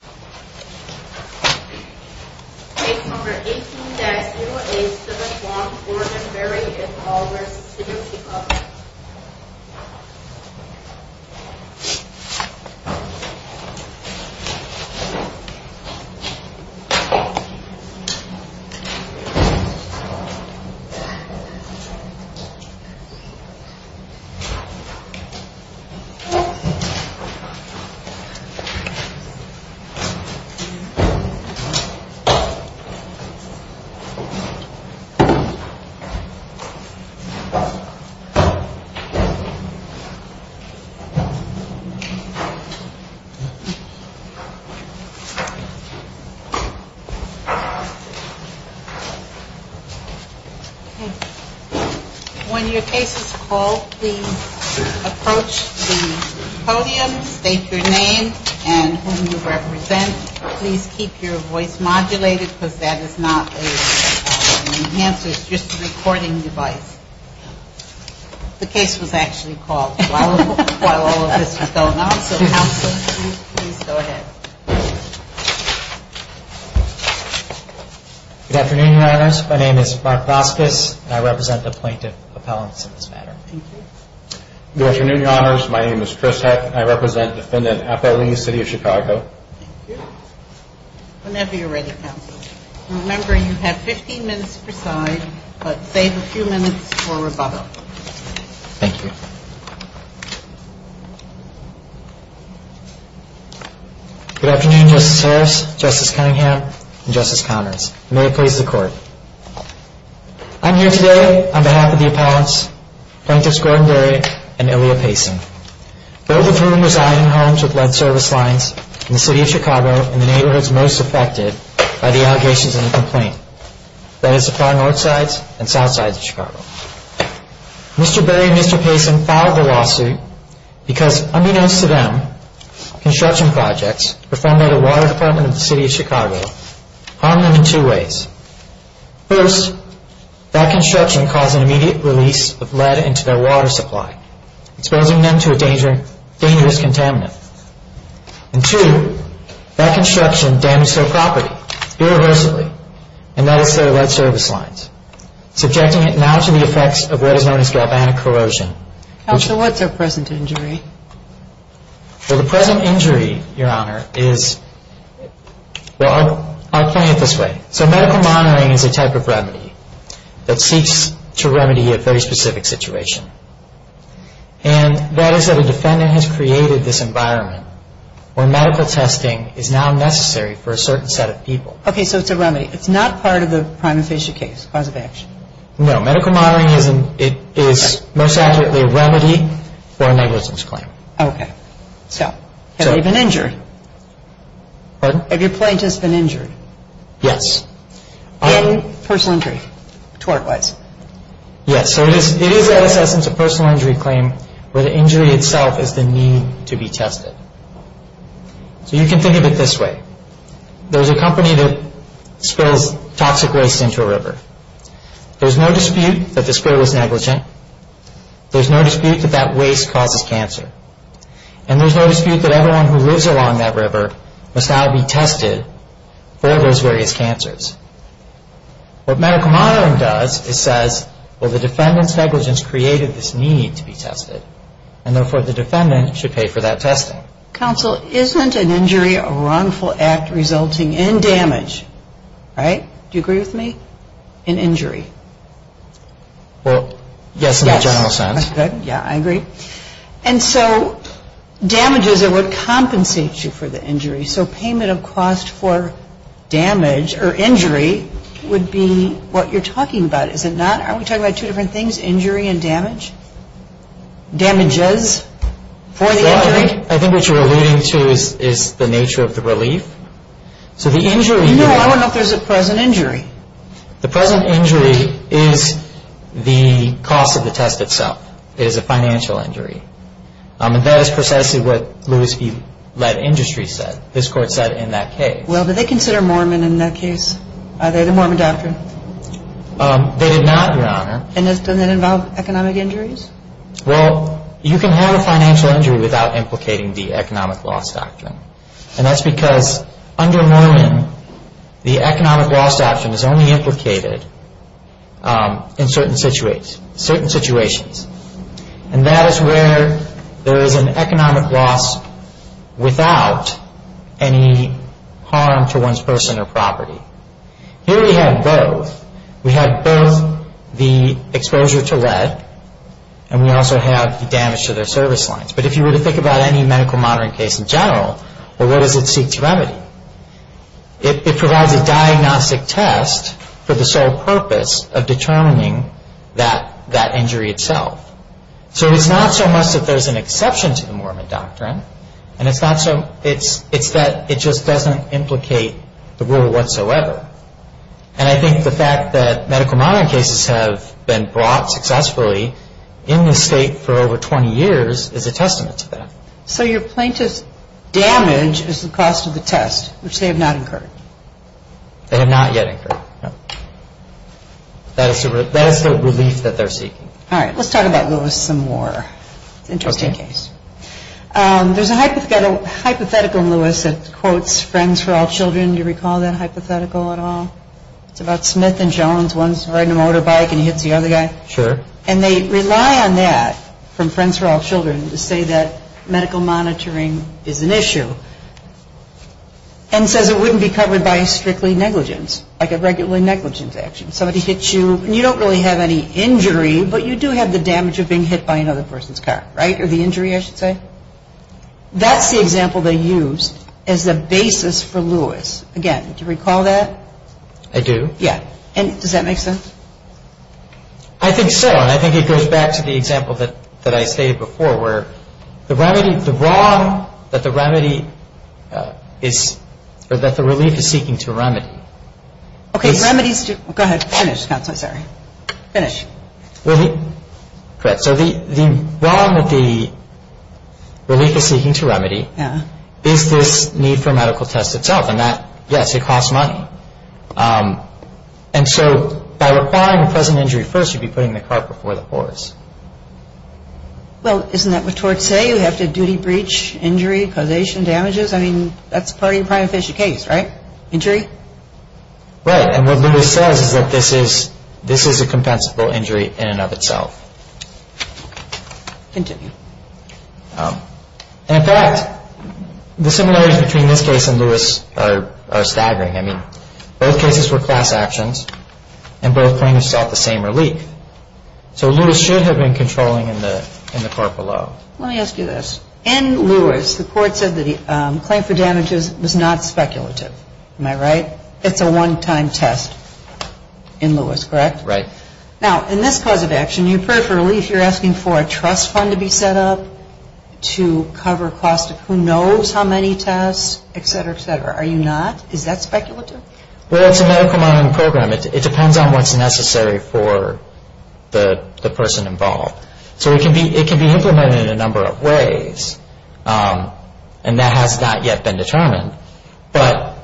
Case No. 18-0871, Gordon Berry v. City of Chicago When your case is called, please approach the podium, state your name and whom you represent. Please keep your voice modulated because that is not an enhancer, it's just a recording device. The case was actually called while all of this was going on, so counsel, please go ahead. Good afternoon, Your Honors. My name is Mark Voskis and I represent the plaintiff appellants in this matter. Good afternoon, Your Honors. My name is Chris Heck and I represent Defendant Apple Lee, City of Chicago. Whenever you're ready, counsel. Remember, you have 15 minutes per side, but save a few minutes for rebuttal. Thank you. Good afternoon, Justice Harris, Justice Cunningham, and Justice Connors. May it please the Court. I'm here today on behalf of the appellants, Plaintiffs Gordon Berry and Ilya Payson, both of whom reside in homes with lead service lines in the City of Chicago and the neighborhoods most affected by the allegations in the complaint, that is the far north sides and south sides of Chicago. Mr. Berry and Mr. Payson filed the lawsuit because, unbeknownst to them, construction projects performed by the Water Department of the City of Chicago harmed them in two ways. First, that construction caused an immediate release of lead into their water supply, exposing them to a dangerous contaminant. And two, that construction damaged their property, irreversibly, and that is their lead service lines, subjecting it now to the effects of what is known as galvanic corrosion. Counsel, what's their present injury? Well, the present injury, Your Honor, is, well, I'll point it this way. So medical monitoring is a type of remedy that seeks to remedy a very specific situation. And that is that a defendant has created this environment where medical testing is now necessary for a certain set of people. Okay, so it's a remedy. It's not part of the prime official case, cause of action? No. Medical monitoring is most accurately a remedy for a negligence claim. Okay. So have they been injured? Pardon? Have your plaintiffs been injured? Yes. Any personal injury, tort-wise? Yes. So it is, in essence, a personal injury claim where the injury itself is the need to be tested. So you can think of it this way. There's a company that spills toxic waste into a river. There's no dispute that the spill is negligent. There's no dispute that that waste causes cancer. And there's no dispute that everyone who lives along that river must now be tested for those various cancers. What medical monitoring does is says, well, the defendant's negligence created this need to be tested. And therefore, the defendant should pay for that testing. Counsel, isn't an injury a wrongful act resulting in damage? Right? Do you agree with me? In injury? Well, yes, in the general sense. Yes. That's good. Yeah, I agree. And so damages are what compensates you for the injury. So payment of cost for damage or injury would be what you're talking about, is it not? Aren't we talking about two different things, injury and damage? Damages for the injury? Well, I think what you're alluding to is the nature of the relief. So the injury. No, I want to know if there's a present injury. The present injury is the cost of the test itself. It is a financial injury. And that is precisely what Lewis E. Lead Industry said. His court said in that case. Well, do they consider Mormon in that case? Are they the Mormon doctrine? They did not, Your Honor. And doesn't that involve economic injuries? Well, you can have a financial injury without implicating the economic loss doctrine. And that's because under Mormon, the economic loss doctrine is only implicated in certain situations. And that is where there is an economic loss without any harm to one's person or property. Here we have both. We have both the exposure to lead, and we also have the damage to their service lines. But if you were to think about any medical monitoring case in general, well, what does it seek to remedy? It provides a diagnostic test for the sole purpose of determining that injury itself. So it's not so much that there's an exception to the Mormon doctrine, and it's that it just doesn't implicate the rule whatsoever. And I think the fact that medical monitoring cases have been brought successfully in this state for over 20 years is a testament to that. So your plaintiff's damage is the cost of the test, which they have not incurred? They have not yet incurred, no. That is the relief that they're seeking. All right, let's talk about Lewis some more. It's an interesting case. There's a hypothetical in Lewis that quotes Friends for All Children. Do you recall that hypothetical at all? It's about Smith and Jones. One's riding a motorbike, and he hits the other guy. Sure. And they rely on that from Friends for All Children to say that medical monitoring is an issue and says it wouldn't be covered by strictly negligence, like a regular negligence action. Somebody hits you, and you don't really have any injury, but you do have the damage of being hit by another person's car, right? Or the injury, I should say. That's the example they used as the basis for Lewis. Again, do you recall that? I do. Yeah. And does that make sense? I think so, and I think it goes back to the example that I stated before, where the remedy, the wrong that the remedy is, or that the relief is seeking to remedy. Okay, remedies do. Go ahead. Finish, Counsel. I'm sorry. Finish. Correct. So the wrong that the relief is seeking to remedy is this need for a medical test itself. And that, yes, it costs money. And so by requiring a present injury first, you'd be putting the car before the horse. Well, isn't that what torts say? You have to duty breach injury, causation, damages. I mean, that's part of your prima facie case, right? Injury? Right. And what Lewis says is that this is a compensable injury in and of itself. Continue. In fact, the similarities between this case and Lewis are staggering. I mean, both cases were class actions, and both claims sought the same relief. So Lewis should have been controlling in the court below. Let me ask you this. In Lewis, the court said that the claim for damages was not speculative. Am I right? It's a one-time test in Lewis, correct? Right. Now, in this cause of action, you prefer relief. You're asking for a trust fund to be set up to cover costs of who knows how many tests, et cetera, et cetera. Are you not? Is that speculative? Well, it's a medical monitoring program. It depends on what's necessary for the person involved. So it can be implemented in a number of ways, and that has not yet been determined. But,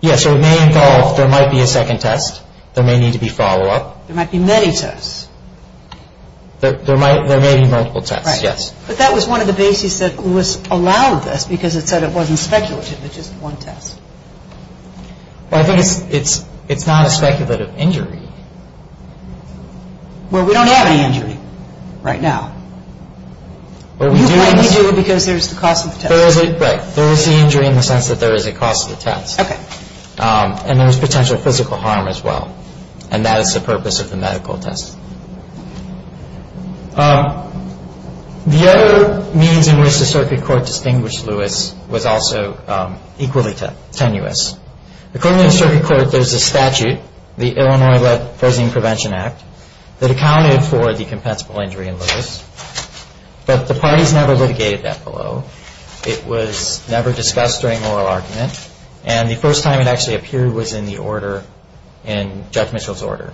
yes, it may involve there might be a second test. There may need to be follow-up. There might be many tests. There may be multiple tests, yes. Right. But that was one of the bases that Lewis allowed this, because it said it wasn't speculative. It's just one test. Well, I think it's not a speculative injury. Well, we don't have any injury right now. We do because there's the cost of the test. Right. There is the injury in the sense that there is a cost of the test. Okay. And there's potential physical harm as well, and that is the purpose of the medical test. The other means in which the circuit court distinguished Lewis was also equally tenuous. According to the circuit court, there's a statute, the Illinois-led Frozen In Prevention Act, that accounted for the compensable injury in Lewis. But the parties never litigated that below. It was never discussed during oral argument. And the first time it actually appeared was in the order, in Judge Mitchell's order.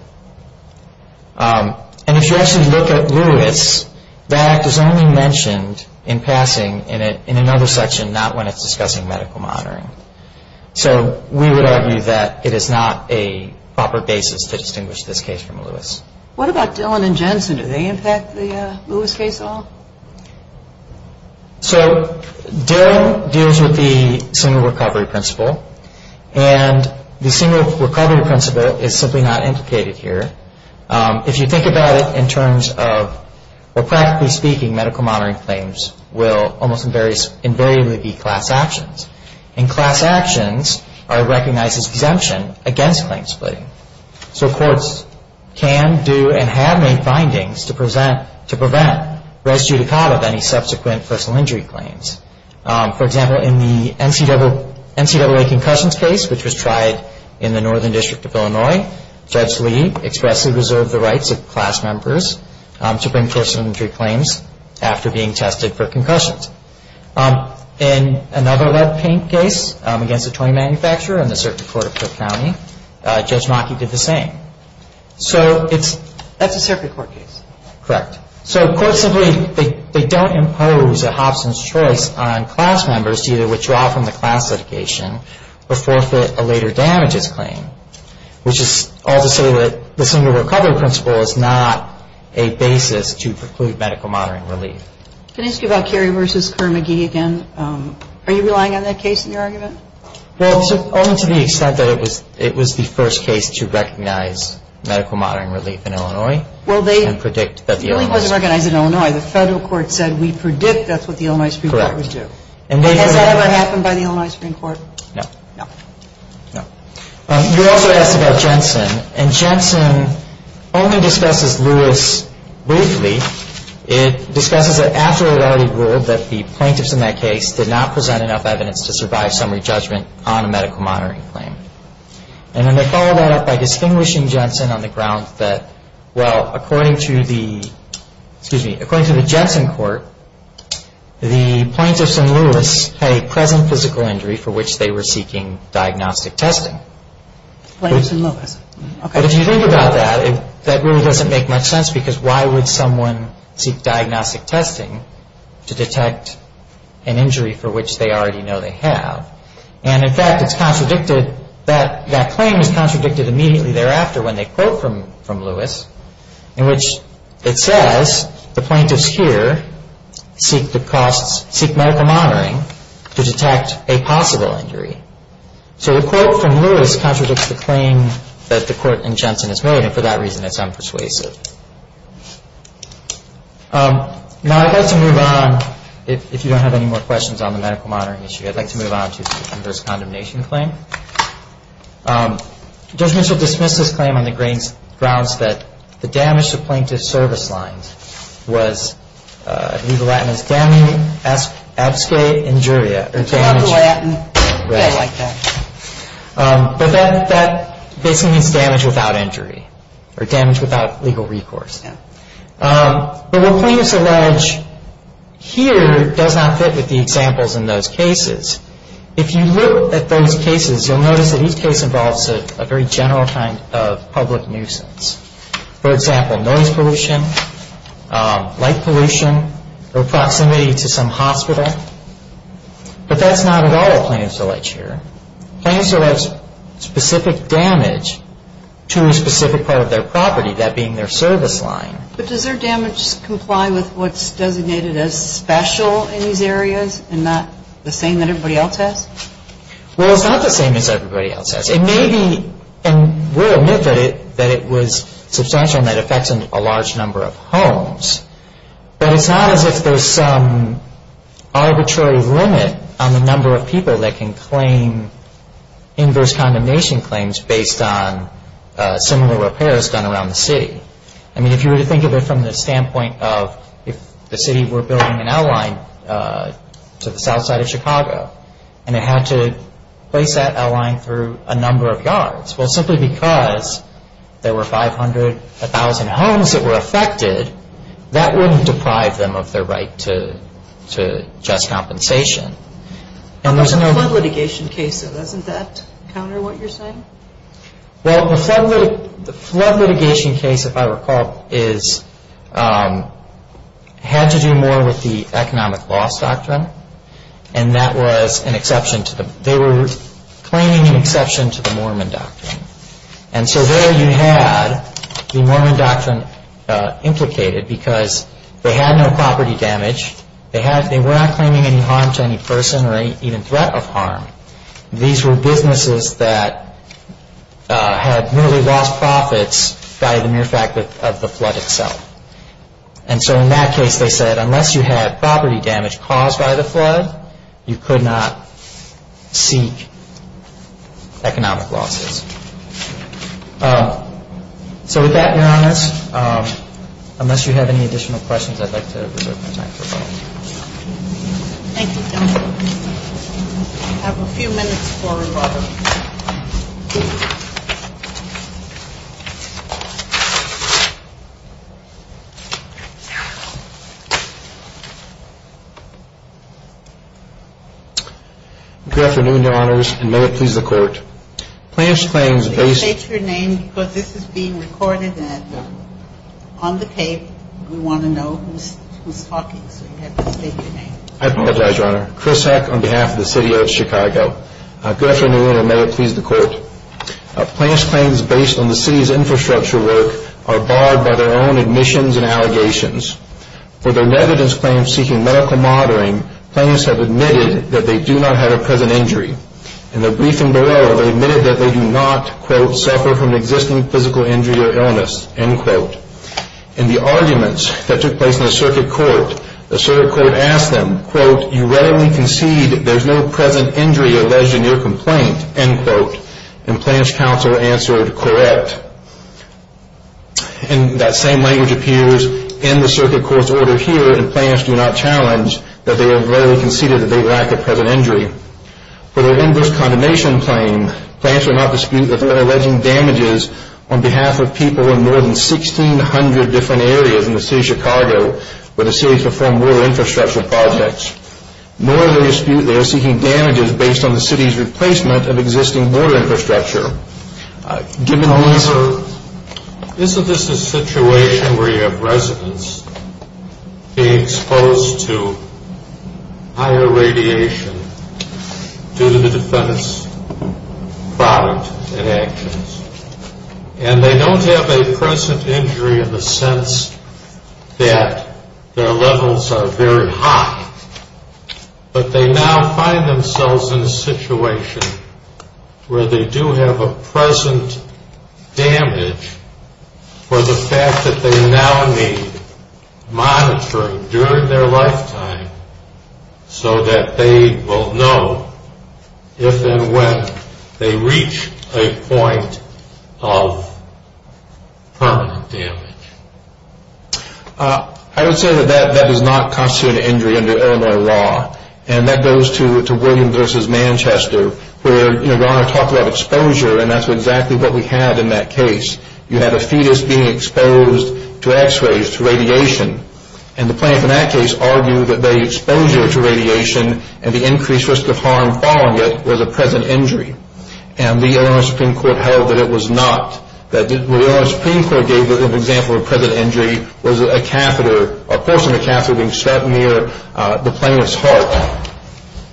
And if you actually look at Lewis, that act is only mentioned in passing in another section, not when it's discussing medical monitoring. So we would argue that it is not a proper basis to distinguish this case from Lewis. What about Dillon and Jensen? Do they impact the Lewis case at all? So Dillon deals with the single recovery principle. And the single recovery principle is simply not implicated here. If you think about it in terms of, well, practically speaking, medical monitoring claims will almost invariably be class actions. And class actions are recognized as exemption against claim splitting. So courts can do and have made findings to prevent res judicata of any subsequent personal injury claims. For example, in the NCAA concussions case, which was tried in the Northern District of Illinois, Judge Lee expressly reserved the rights of class members to bring personal injury claims after being tested for concussions. In another lead paint case against a toy manufacturer in the circuit court of Cook County, Judge Maki did the same. So it's... That's a circuit court case. Correct. So courts simply, they don't impose a Hobson's choice on class members to either withdraw from the class litigation or forfeit a later damages claim, which is all to say that the single recovery principle is not a basis to preclude medical monitoring relief. Can I ask you about Kerry v. Kerr-McGee again? Are you relying on that case in your argument? Well, only to the extent that it was the first case to recognize medical monitoring relief in Illinois and predict that the Illinois Supreme Court... Well, it really wasn't recognized in Illinois. The Federal Court said we predict that's what the Illinois Supreme Court would do. Correct. Has that ever happened by the Illinois Supreme Court? No. No. No. You also asked about Jensen. And Jensen only discusses Lewis briefly. It discusses that after it had already ruled that the plaintiffs in that case did not present enough evidence to survive summary judgment on a medical monitoring claim. And then they follow that up by distinguishing Jensen on the grounds that, well, according to the, excuse me, according to the Jensen court, the plaintiffs in Lewis had a present physical injury for which they were seeking diagnostic testing. Plaintiffs in Lewis. But if you think about that, that really doesn't make much sense because why would someone seek diagnostic testing to detect an injury for which they already know they have? And, in fact, it's contradicted, that claim is contradicted immediately thereafter when they quote from Lewis, in which it says the plaintiffs here seek medical monitoring to detect a possible injury. So the quote from Lewis contradicts the claim that the court in Jensen has made, and for that reason it's unpersuasive. Now I'd like to move on. If you don't have any more questions on the medical monitoring issue, I'd like to move on to the adverse condemnation claim. Judge Mitchell dismissed this claim on the grounds that the damage to plaintiff's service lines was, I believe the Latin is damage absque injuria, or damage. I love the Latin. I like that. But that basically means damage without injury, or damage without legal recourse. But what plaintiffs allege here does not fit with the examples in those cases. If you look at those cases, you'll notice that each case involves a very general kind of public nuisance. For example, noise pollution, light pollution, or proximity to some hospital. But that's not at all what plaintiffs allege here. Plaintiffs allege specific damage to a specific part of their property, that being their service line. But does their damage comply with what's designated as special in these areas, and not the same that everybody else has? Well, it's not the same as everybody else has. It may be, and we'll admit that it was substantial and that it affects a large number of homes. But it's not as if there's some arbitrary limit on the number of people that can claim inverse condemnation claims based on similar repairs done around the city. I mean, if you were to think of it from the standpoint of if the city were building an outline to the south side of Chicago, and it had to place that outline through a number of yards. Well, simply because there were 500, 1,000 homes that were affected, that wouldn't deprive them of their right to just compensation. What about the flood litigation case, though? Doesn't that counter what you're saying? Well, the flood litigation case, if I recall, had to do more with the economic loss doctrine. And they were claiming an exception to the Mormon doctrine. And so there you had the Mormon doctrine implicated because they had no property damage. They were not claiming any harm to any person or even threat of harm. These were businesses that had merely lost profits by the mere fact of the flood itself. And so in that case, they said, unless you had property damage caused by the flood, you could not seek economic losses. So with that, Your Honor, unless you have any additional questions, I'd like to reserve my time for a moment. Thank you, gentlemen. We have a few minutes for rebuttal. Good afternoon, Your Honors, and may it please the Court. Plans claims based on the city's infrastructure work are barred by their own admissions and I apologize, Your Honor. I'm going to take your name because this is being recorded and on the tape, we want to know who's talking, so you have to state your name. I apologize, Your Honor. Chris Heck on behalf of the city of Chicago. Good afternoon, and may it please the Court. Plans claims based on the city's infrastructure work are barred by their own admissions and allegations. For their negligence claims seeking medical monitoring, plans have admitted that they do not have a present injury. In their briefing below, they admitted that they do not, quote, suffer from an existing physical injury or illness, end quote. In the arguments that took place in the circuit court, the circuit court asked them, quote, you readily concede that there is no present injury alleged in your complaint, end quote. And Plans counsel answered, correct. And that same language appears in the circuit court's order here, and Plans do not challenge that they have readily conceded that they lack a present injury. For their inverse condemnation claim, Plans will not dispute that they are alleging damages on behalf of people in more than 1,600 different areas in the city of Chicago where the city has performed border infrastructure projects, nor do they dispute they are seeking damages based on the city's replacement of existing border infrastructure. Given these are- However, isn't this a situation where you have residents being exposed to higher radiation due to the defendant's product and actions, and they don't have a present injury in the sense that their levels are very high, but they now find themselves in a situation where they do have a present damage for the fact that they now need monitoring during their lifetime so that they will know if and when they reach a point of permanent damage. I would say that that does not constitute an injury under Illinois law, and that goes to Williams v. Manchester where your Honor talked about exposure, and that's exactly what we had in that case. You had a fetus being exposed to x-rays, to radiation, and the plaintiff in that case argued that the exposure to radiation and the increased risk of harm following it was a present injury, and the Illinois Supreme Court held that it was not. What the Illinois Supreme Court gave as an example of present injury was a portion of a catheter being struck near the plaintiff's heart,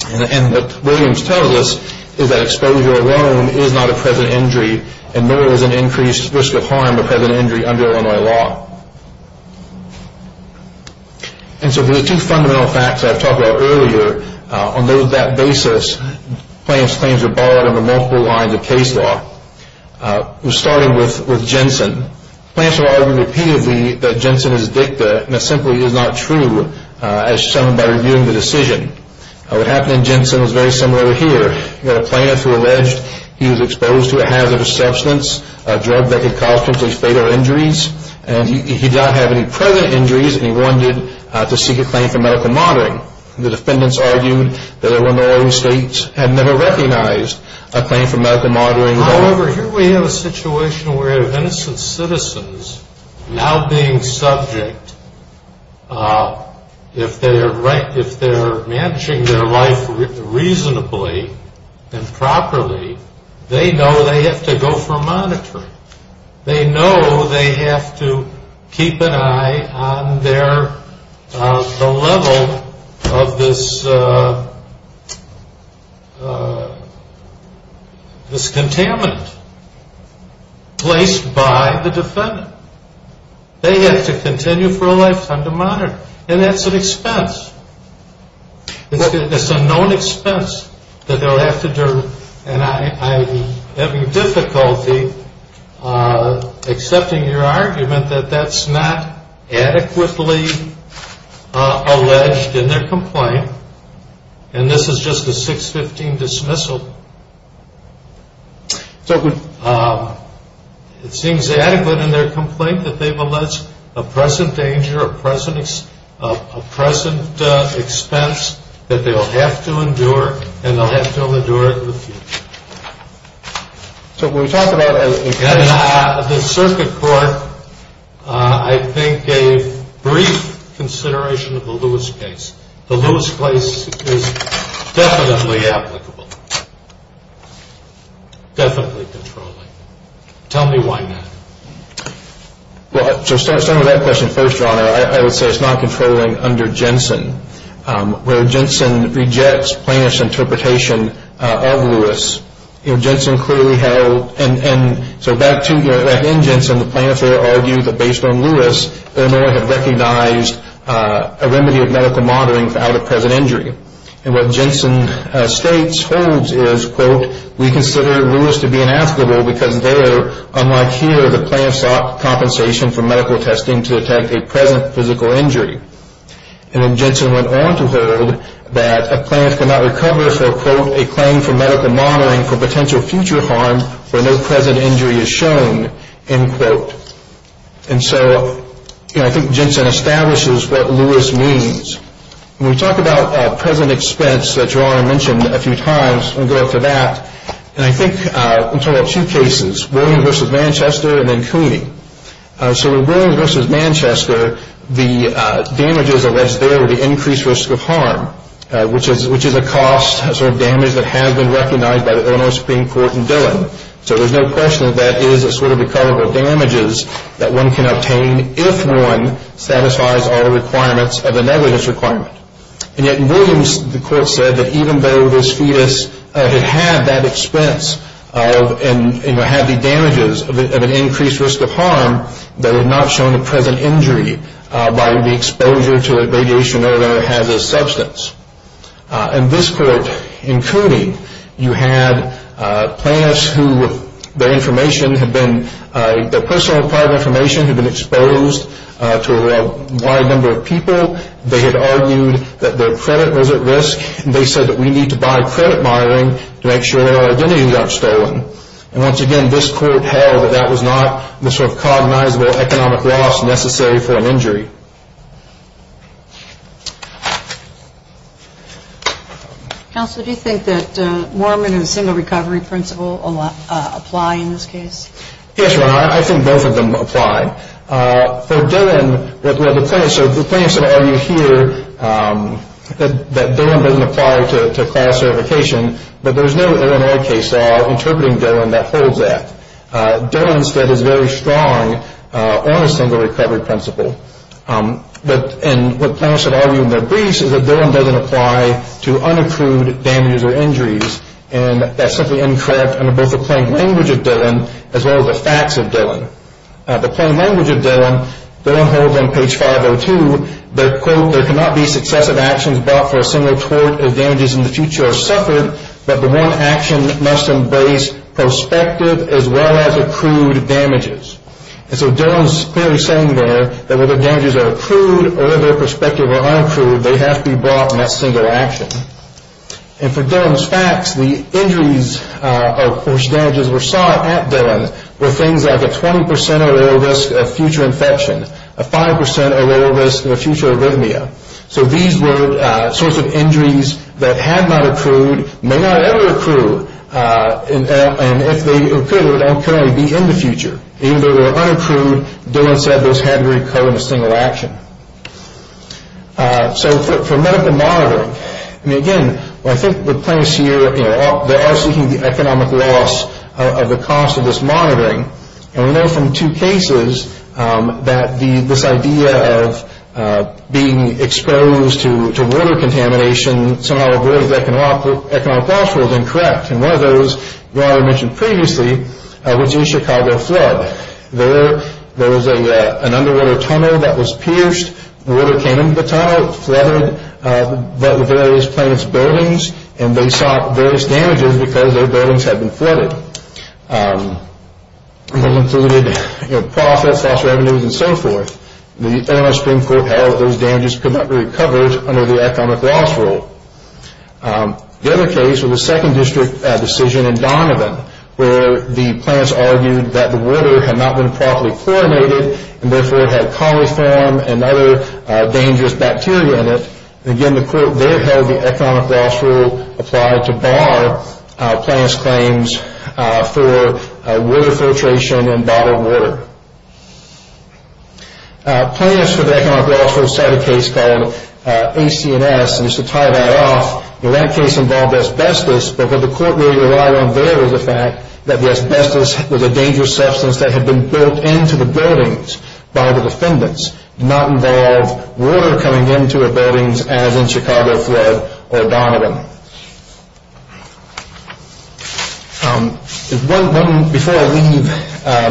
and what Williams tells us is that exposure alone is not a present injury, and there is an increased risk of harm of present injury under Illinois law. And so there are two fundamental facts that I've talked about earlier. On that basis, plaintiff's claims are borrowed under multiple lines of case law. We're starting with Jensen. Plaintiffs are arguing repeatedly that Jensen is addicted, and it simply is not true, as shown by reviewing the decision. What happened in Jensen was very similar here. You had a plaintiff who alleged he was exposed to a hazardous substance, a drug that could cause completely fatal injuries, and he did not have any present injuries, and he wanted to seek a claim for medical monitoring. The defendants argued that Illinois states had never recognized a claim for medical monitoring. However, here we have a situation where innocent citizens, now being subject, if they're managing their life reasonably and properly, they know they have to go for monitoring. They know they have to keep an eye on the level of this contaminant placed by the defendant. They have to continue for a lifetime to monitor, and that's an expense. It's a known expense that they'll have to do, and I'm having difficulty accepting your argument that that's not adequately alleged in their complaint, and this is just a 615 dismissal. It seems adequate in their complaint that they've alleged a present danger, a present expense that they'll have to endure, and they'll have to endure it in the future. So when we talk about the circuit court, I think a brief consideration of the Lewis case. The Lewis case is definitely applicable, definitely controlling. Tell me why not. Well, to start with that question first, Your Honor, I would say it's not controlling under Jensen, where Jensen rejects plaintiff's interpretation of Lewis. Jensen clearly held, and so back in Jensen, the plaintiffs there argue that based on Lewis, Illinois had recognized a remedy of medical monitoring without a present injury, we consider Lewis to be inaskable because there, unlike here, the plaintiffs sought compensation for medical testing to detect a present physical injury. And then Jensen went on to hold that a plaintiff cannot recover for, quote, a claim for medical monitoring for potential future harm where no present injury is shown, end quote. And so I think Jensen establishes what Lewis means. When we talk about present expense that Your Honor mentioned a few times, we'll go to that. And I think in two cases, Williams v. Manchester and then Cooney. So with Williams v. Manchester, the damages alleged there were the increased risk of harm, which is a cost, a sort of damage that has been recognized by the Illinois Supreme Court in Dillon. So there's no question that that is a sort of recoverable damages that one can obtain if one satisfies all the requirements of a negligence requirement. And yet in Williams, the court said that even though this fetus had had that expense and had the damages of an increased risk of harm, that it had not shown a present injury by the exposure to radiation or whatever had this substance. In this court, in Cooney, you had plaintiffs who their information had been, their personal private information had been exposed to a wide number of people. They had argued that their credit was at risk, and they said that we need to buy credit monitoring to make sure that our identity got stolen. And once again, this court held that that was not the sort of cognizable economic loss necessary for an injury. Counsel, do you think that Moorman and the single recovery principle apply in this case? Yes, Ron, I think both of them apply. For Dillon, the plaintiffs have argued here that Dillon doesn't apply to class certification, but there's no Illinois case interpreting Dillon that holds that. Dillon, instead, is very strong on the single recovery principle. And what plaintiffs have argued in their briefs is that Dillon doesn't apply to unaccrued damages or injuries, and that's simply incorrect under both the plain language of Dillon as well as the facts of Dillon. The plain language of Dillon, Dillon holds on page 502 that, quote, there cannot be successive actions brought for a single tort if damages in the future are suffered, but the one action must embrace prospective as well as accrued damages. And so Dillon's clearly saying there that whether damages are accrued or they're prospective or unaccrued, they have to be brought in that single action. And for Dillon's facts, the injuries or damages that were sought at Dillon were things like a 20% or lower risk of future infection, a 5% or lower risk of future arrhythmia. So these were sorts of injuries that had not accrued, may not ever accrue, and if they accrued, they would not currently be in the future. Even if they were unaccrued, Dillon said those had to recur in a single action. So for medical monitoring, I mean, again, I think the plaintiffs here, you know, they are seeking the economic loss of the cost of this monitoring. And we know from two cases that this idea of being exposed to water contamination somehow avoids economic loss was incorrect. And one of those, Brian mentioned previously, was in Chicago flood. There was an underwater tunnel that was pierced. Water came into the tunnel, flooded the various plaintiffs' buildings, and they saw various damages because their buildings had been flooded. That included profits, lost revenues, and so forth. The Illinois Supreme Court held that those damages could not be recovered under the economic loss rule. The other case was a second district decision in Donovan where the plaintiffs argued that the water had not been properly chlorinated and therefore had coliform and other dangerous bacteria in it. Again, the court there held the economic loss rule applied to bar plaintiffs' claims for water filtration and bottled water. Plaintiffs for the economic loss rule set a case called AC&S. And just to tie that off, that case involved asbestos, but what the court relied on there was the fact that the asbestos was a dangerous substance that had been built into the buildings by the defendants. It did not involve water coming into the buildings as in Chicago flood or Donovan. Before I leave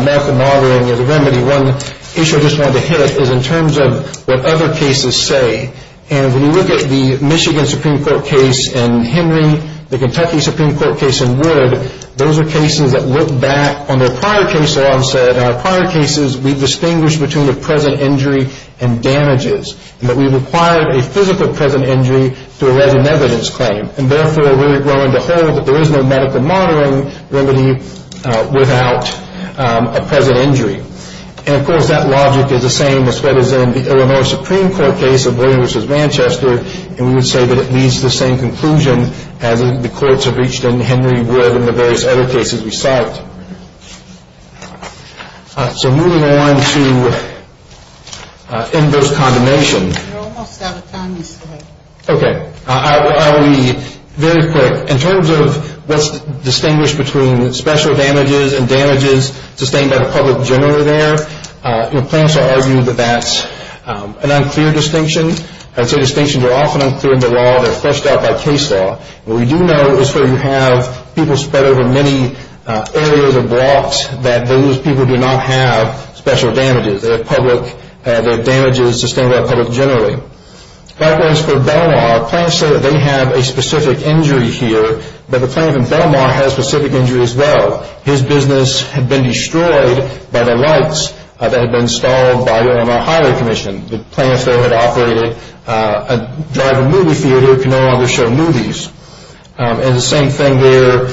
American Margarine as a remedy, one issue I just wanted to hit is in terms of what other cases say. When you look at the Michigan Supreme Court case in Henry, the Kentucky Supreme Court case in Wood, those are cases that look back on their prior cases. Our prior cases, we've distinguished between the present injury and damages. We've acquired a physical present injury to a resident evidence claim. Therefore, we're going to hold that there is no medical margarine remedy without a present injury. And, of course, that logic is the same as what is in the Illinois Supreme Court case of Wood v. Manchester, and we would say that it leads to the same conclusion as the courts have reached in Henry, Wood, and the various other cases we cite. So moving on to inverse condemnation. We're almost out of time. Okay. I'll be very quick. In terms of what's distinguished between special damages and damages sustained by the public generally there, plaintiffs will argue that that's an unclear distinction. I'd say distinctions are often unclear in the law. They're fleshed out by case law. What we do know is where you have people spread over many areas or blocks, that those people do not have special damages. They have damages sustained by the public generally. Likewise for Belmar, plaintiffs say that they have a specific injury here, but the plaintiff in Belmar has a specific injury as well. His business had been destroyed by the lights that had been stalled by the Illinois Highway Commission. The plaintiff there had operated a drive-in movie theater that could no longer show movies. And the same thing there.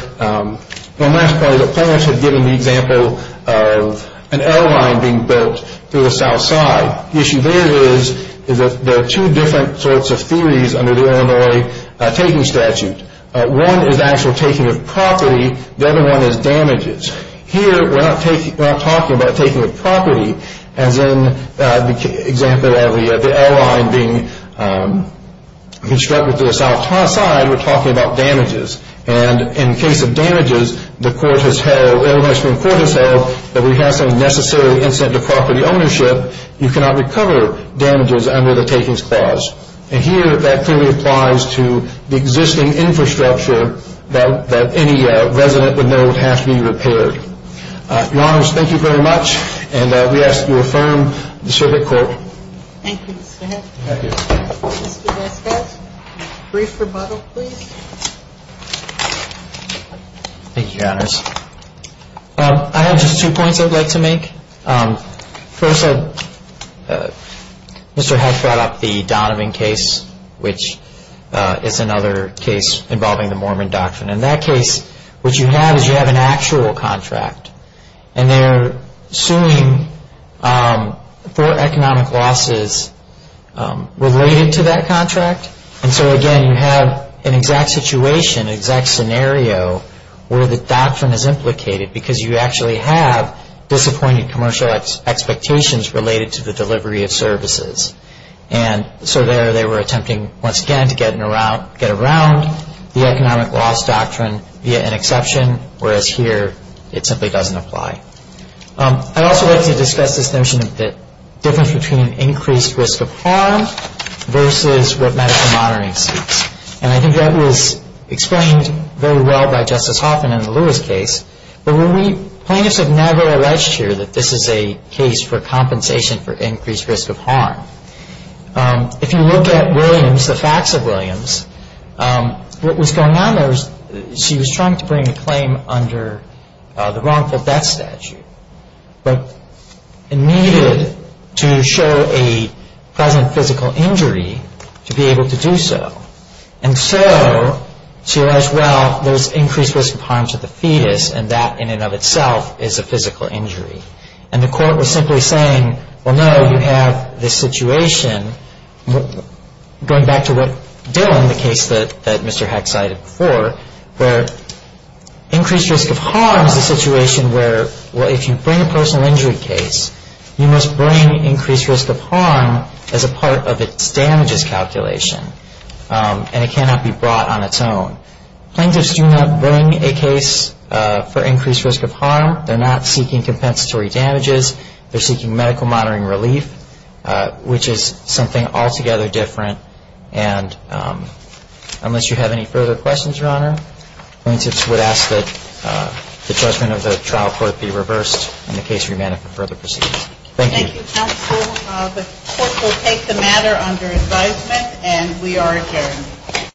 One last point is that plaintiffs have given the example of an airline being built through the south side. The issue there is that there are two different sorts of theories under the Illinois taking statute. One is actual taking of property. The other one is damages. Here we're not talking about taking of property. As in the example of the airline being constructed through the south side, we're talking about damages. And in the case of damages, the court has held, the Illinois Supreme Court has held, that we have some necessary incentive to property ownership. You cannot recover damages under the takings clause. And here that clearly applies to the existing infrastructure that any resident would know would have to be repaired. Your Honors, thank you very much. And we ask that you affirm the circuit court. Thank you. Go ahead. Thank you. Mr. Vasquez, brief rebuttal please. Thank you, Your Honors. I have just two points I'd like to make. First, Mr. Hatch brought up the Donovan case, which is another case involving the Mormon doctrine. In that case, what you have is you have an actual contract. And they're suing for economic losses related to that contract. And so, again, you have an exact situation, an exact scenario where the doctrine is implicated because you actually have disappointing commercial expectations related to the delivery of services. And so there they were attempting, once again, to get around the economic loss doctrine via an exception, whereas here it simply doesn't apply. I'd also like to discuss this notion of the difference between increased risk of harm versus what medical monitoring seeks. And I think that was explained very well by Justice Hoffman in the Lewis case. But plaintiffs have never alleged here that this is a case for compensation for increased risk of harm. If you look at Williams, the facts of Williams, what was going on there was she was trying to bring a claim under the wrongful death statute, but it needed to show a present physical injury to be able to do so. And so she alleged, well, there's increased risk of harm to the fetus, and that in and of itself is a physical injury. And the court was simply saying, well, no, you have this situation. Going back to what Dillon, the case that Mr. Heck cited before, where increased risk of harm is a situation where, well, if you bring a personal injury case, you must bring increased risk of harm as a part of its damages calculation, and it cannot be brought on its own. Plaintiffs do not bring a case for increased risk of harm. They're not seeking compensatory damages. They're seeking medical monitoring relief, which is something altogether different. And unless you have any further questions, Your Honor, plaintiffs would ask that the judgment of the trial court be reversed and the case remanded for further proceedings. Thank you. Thank you, counsel. The court will take the matter under advisement, and we are adjourned.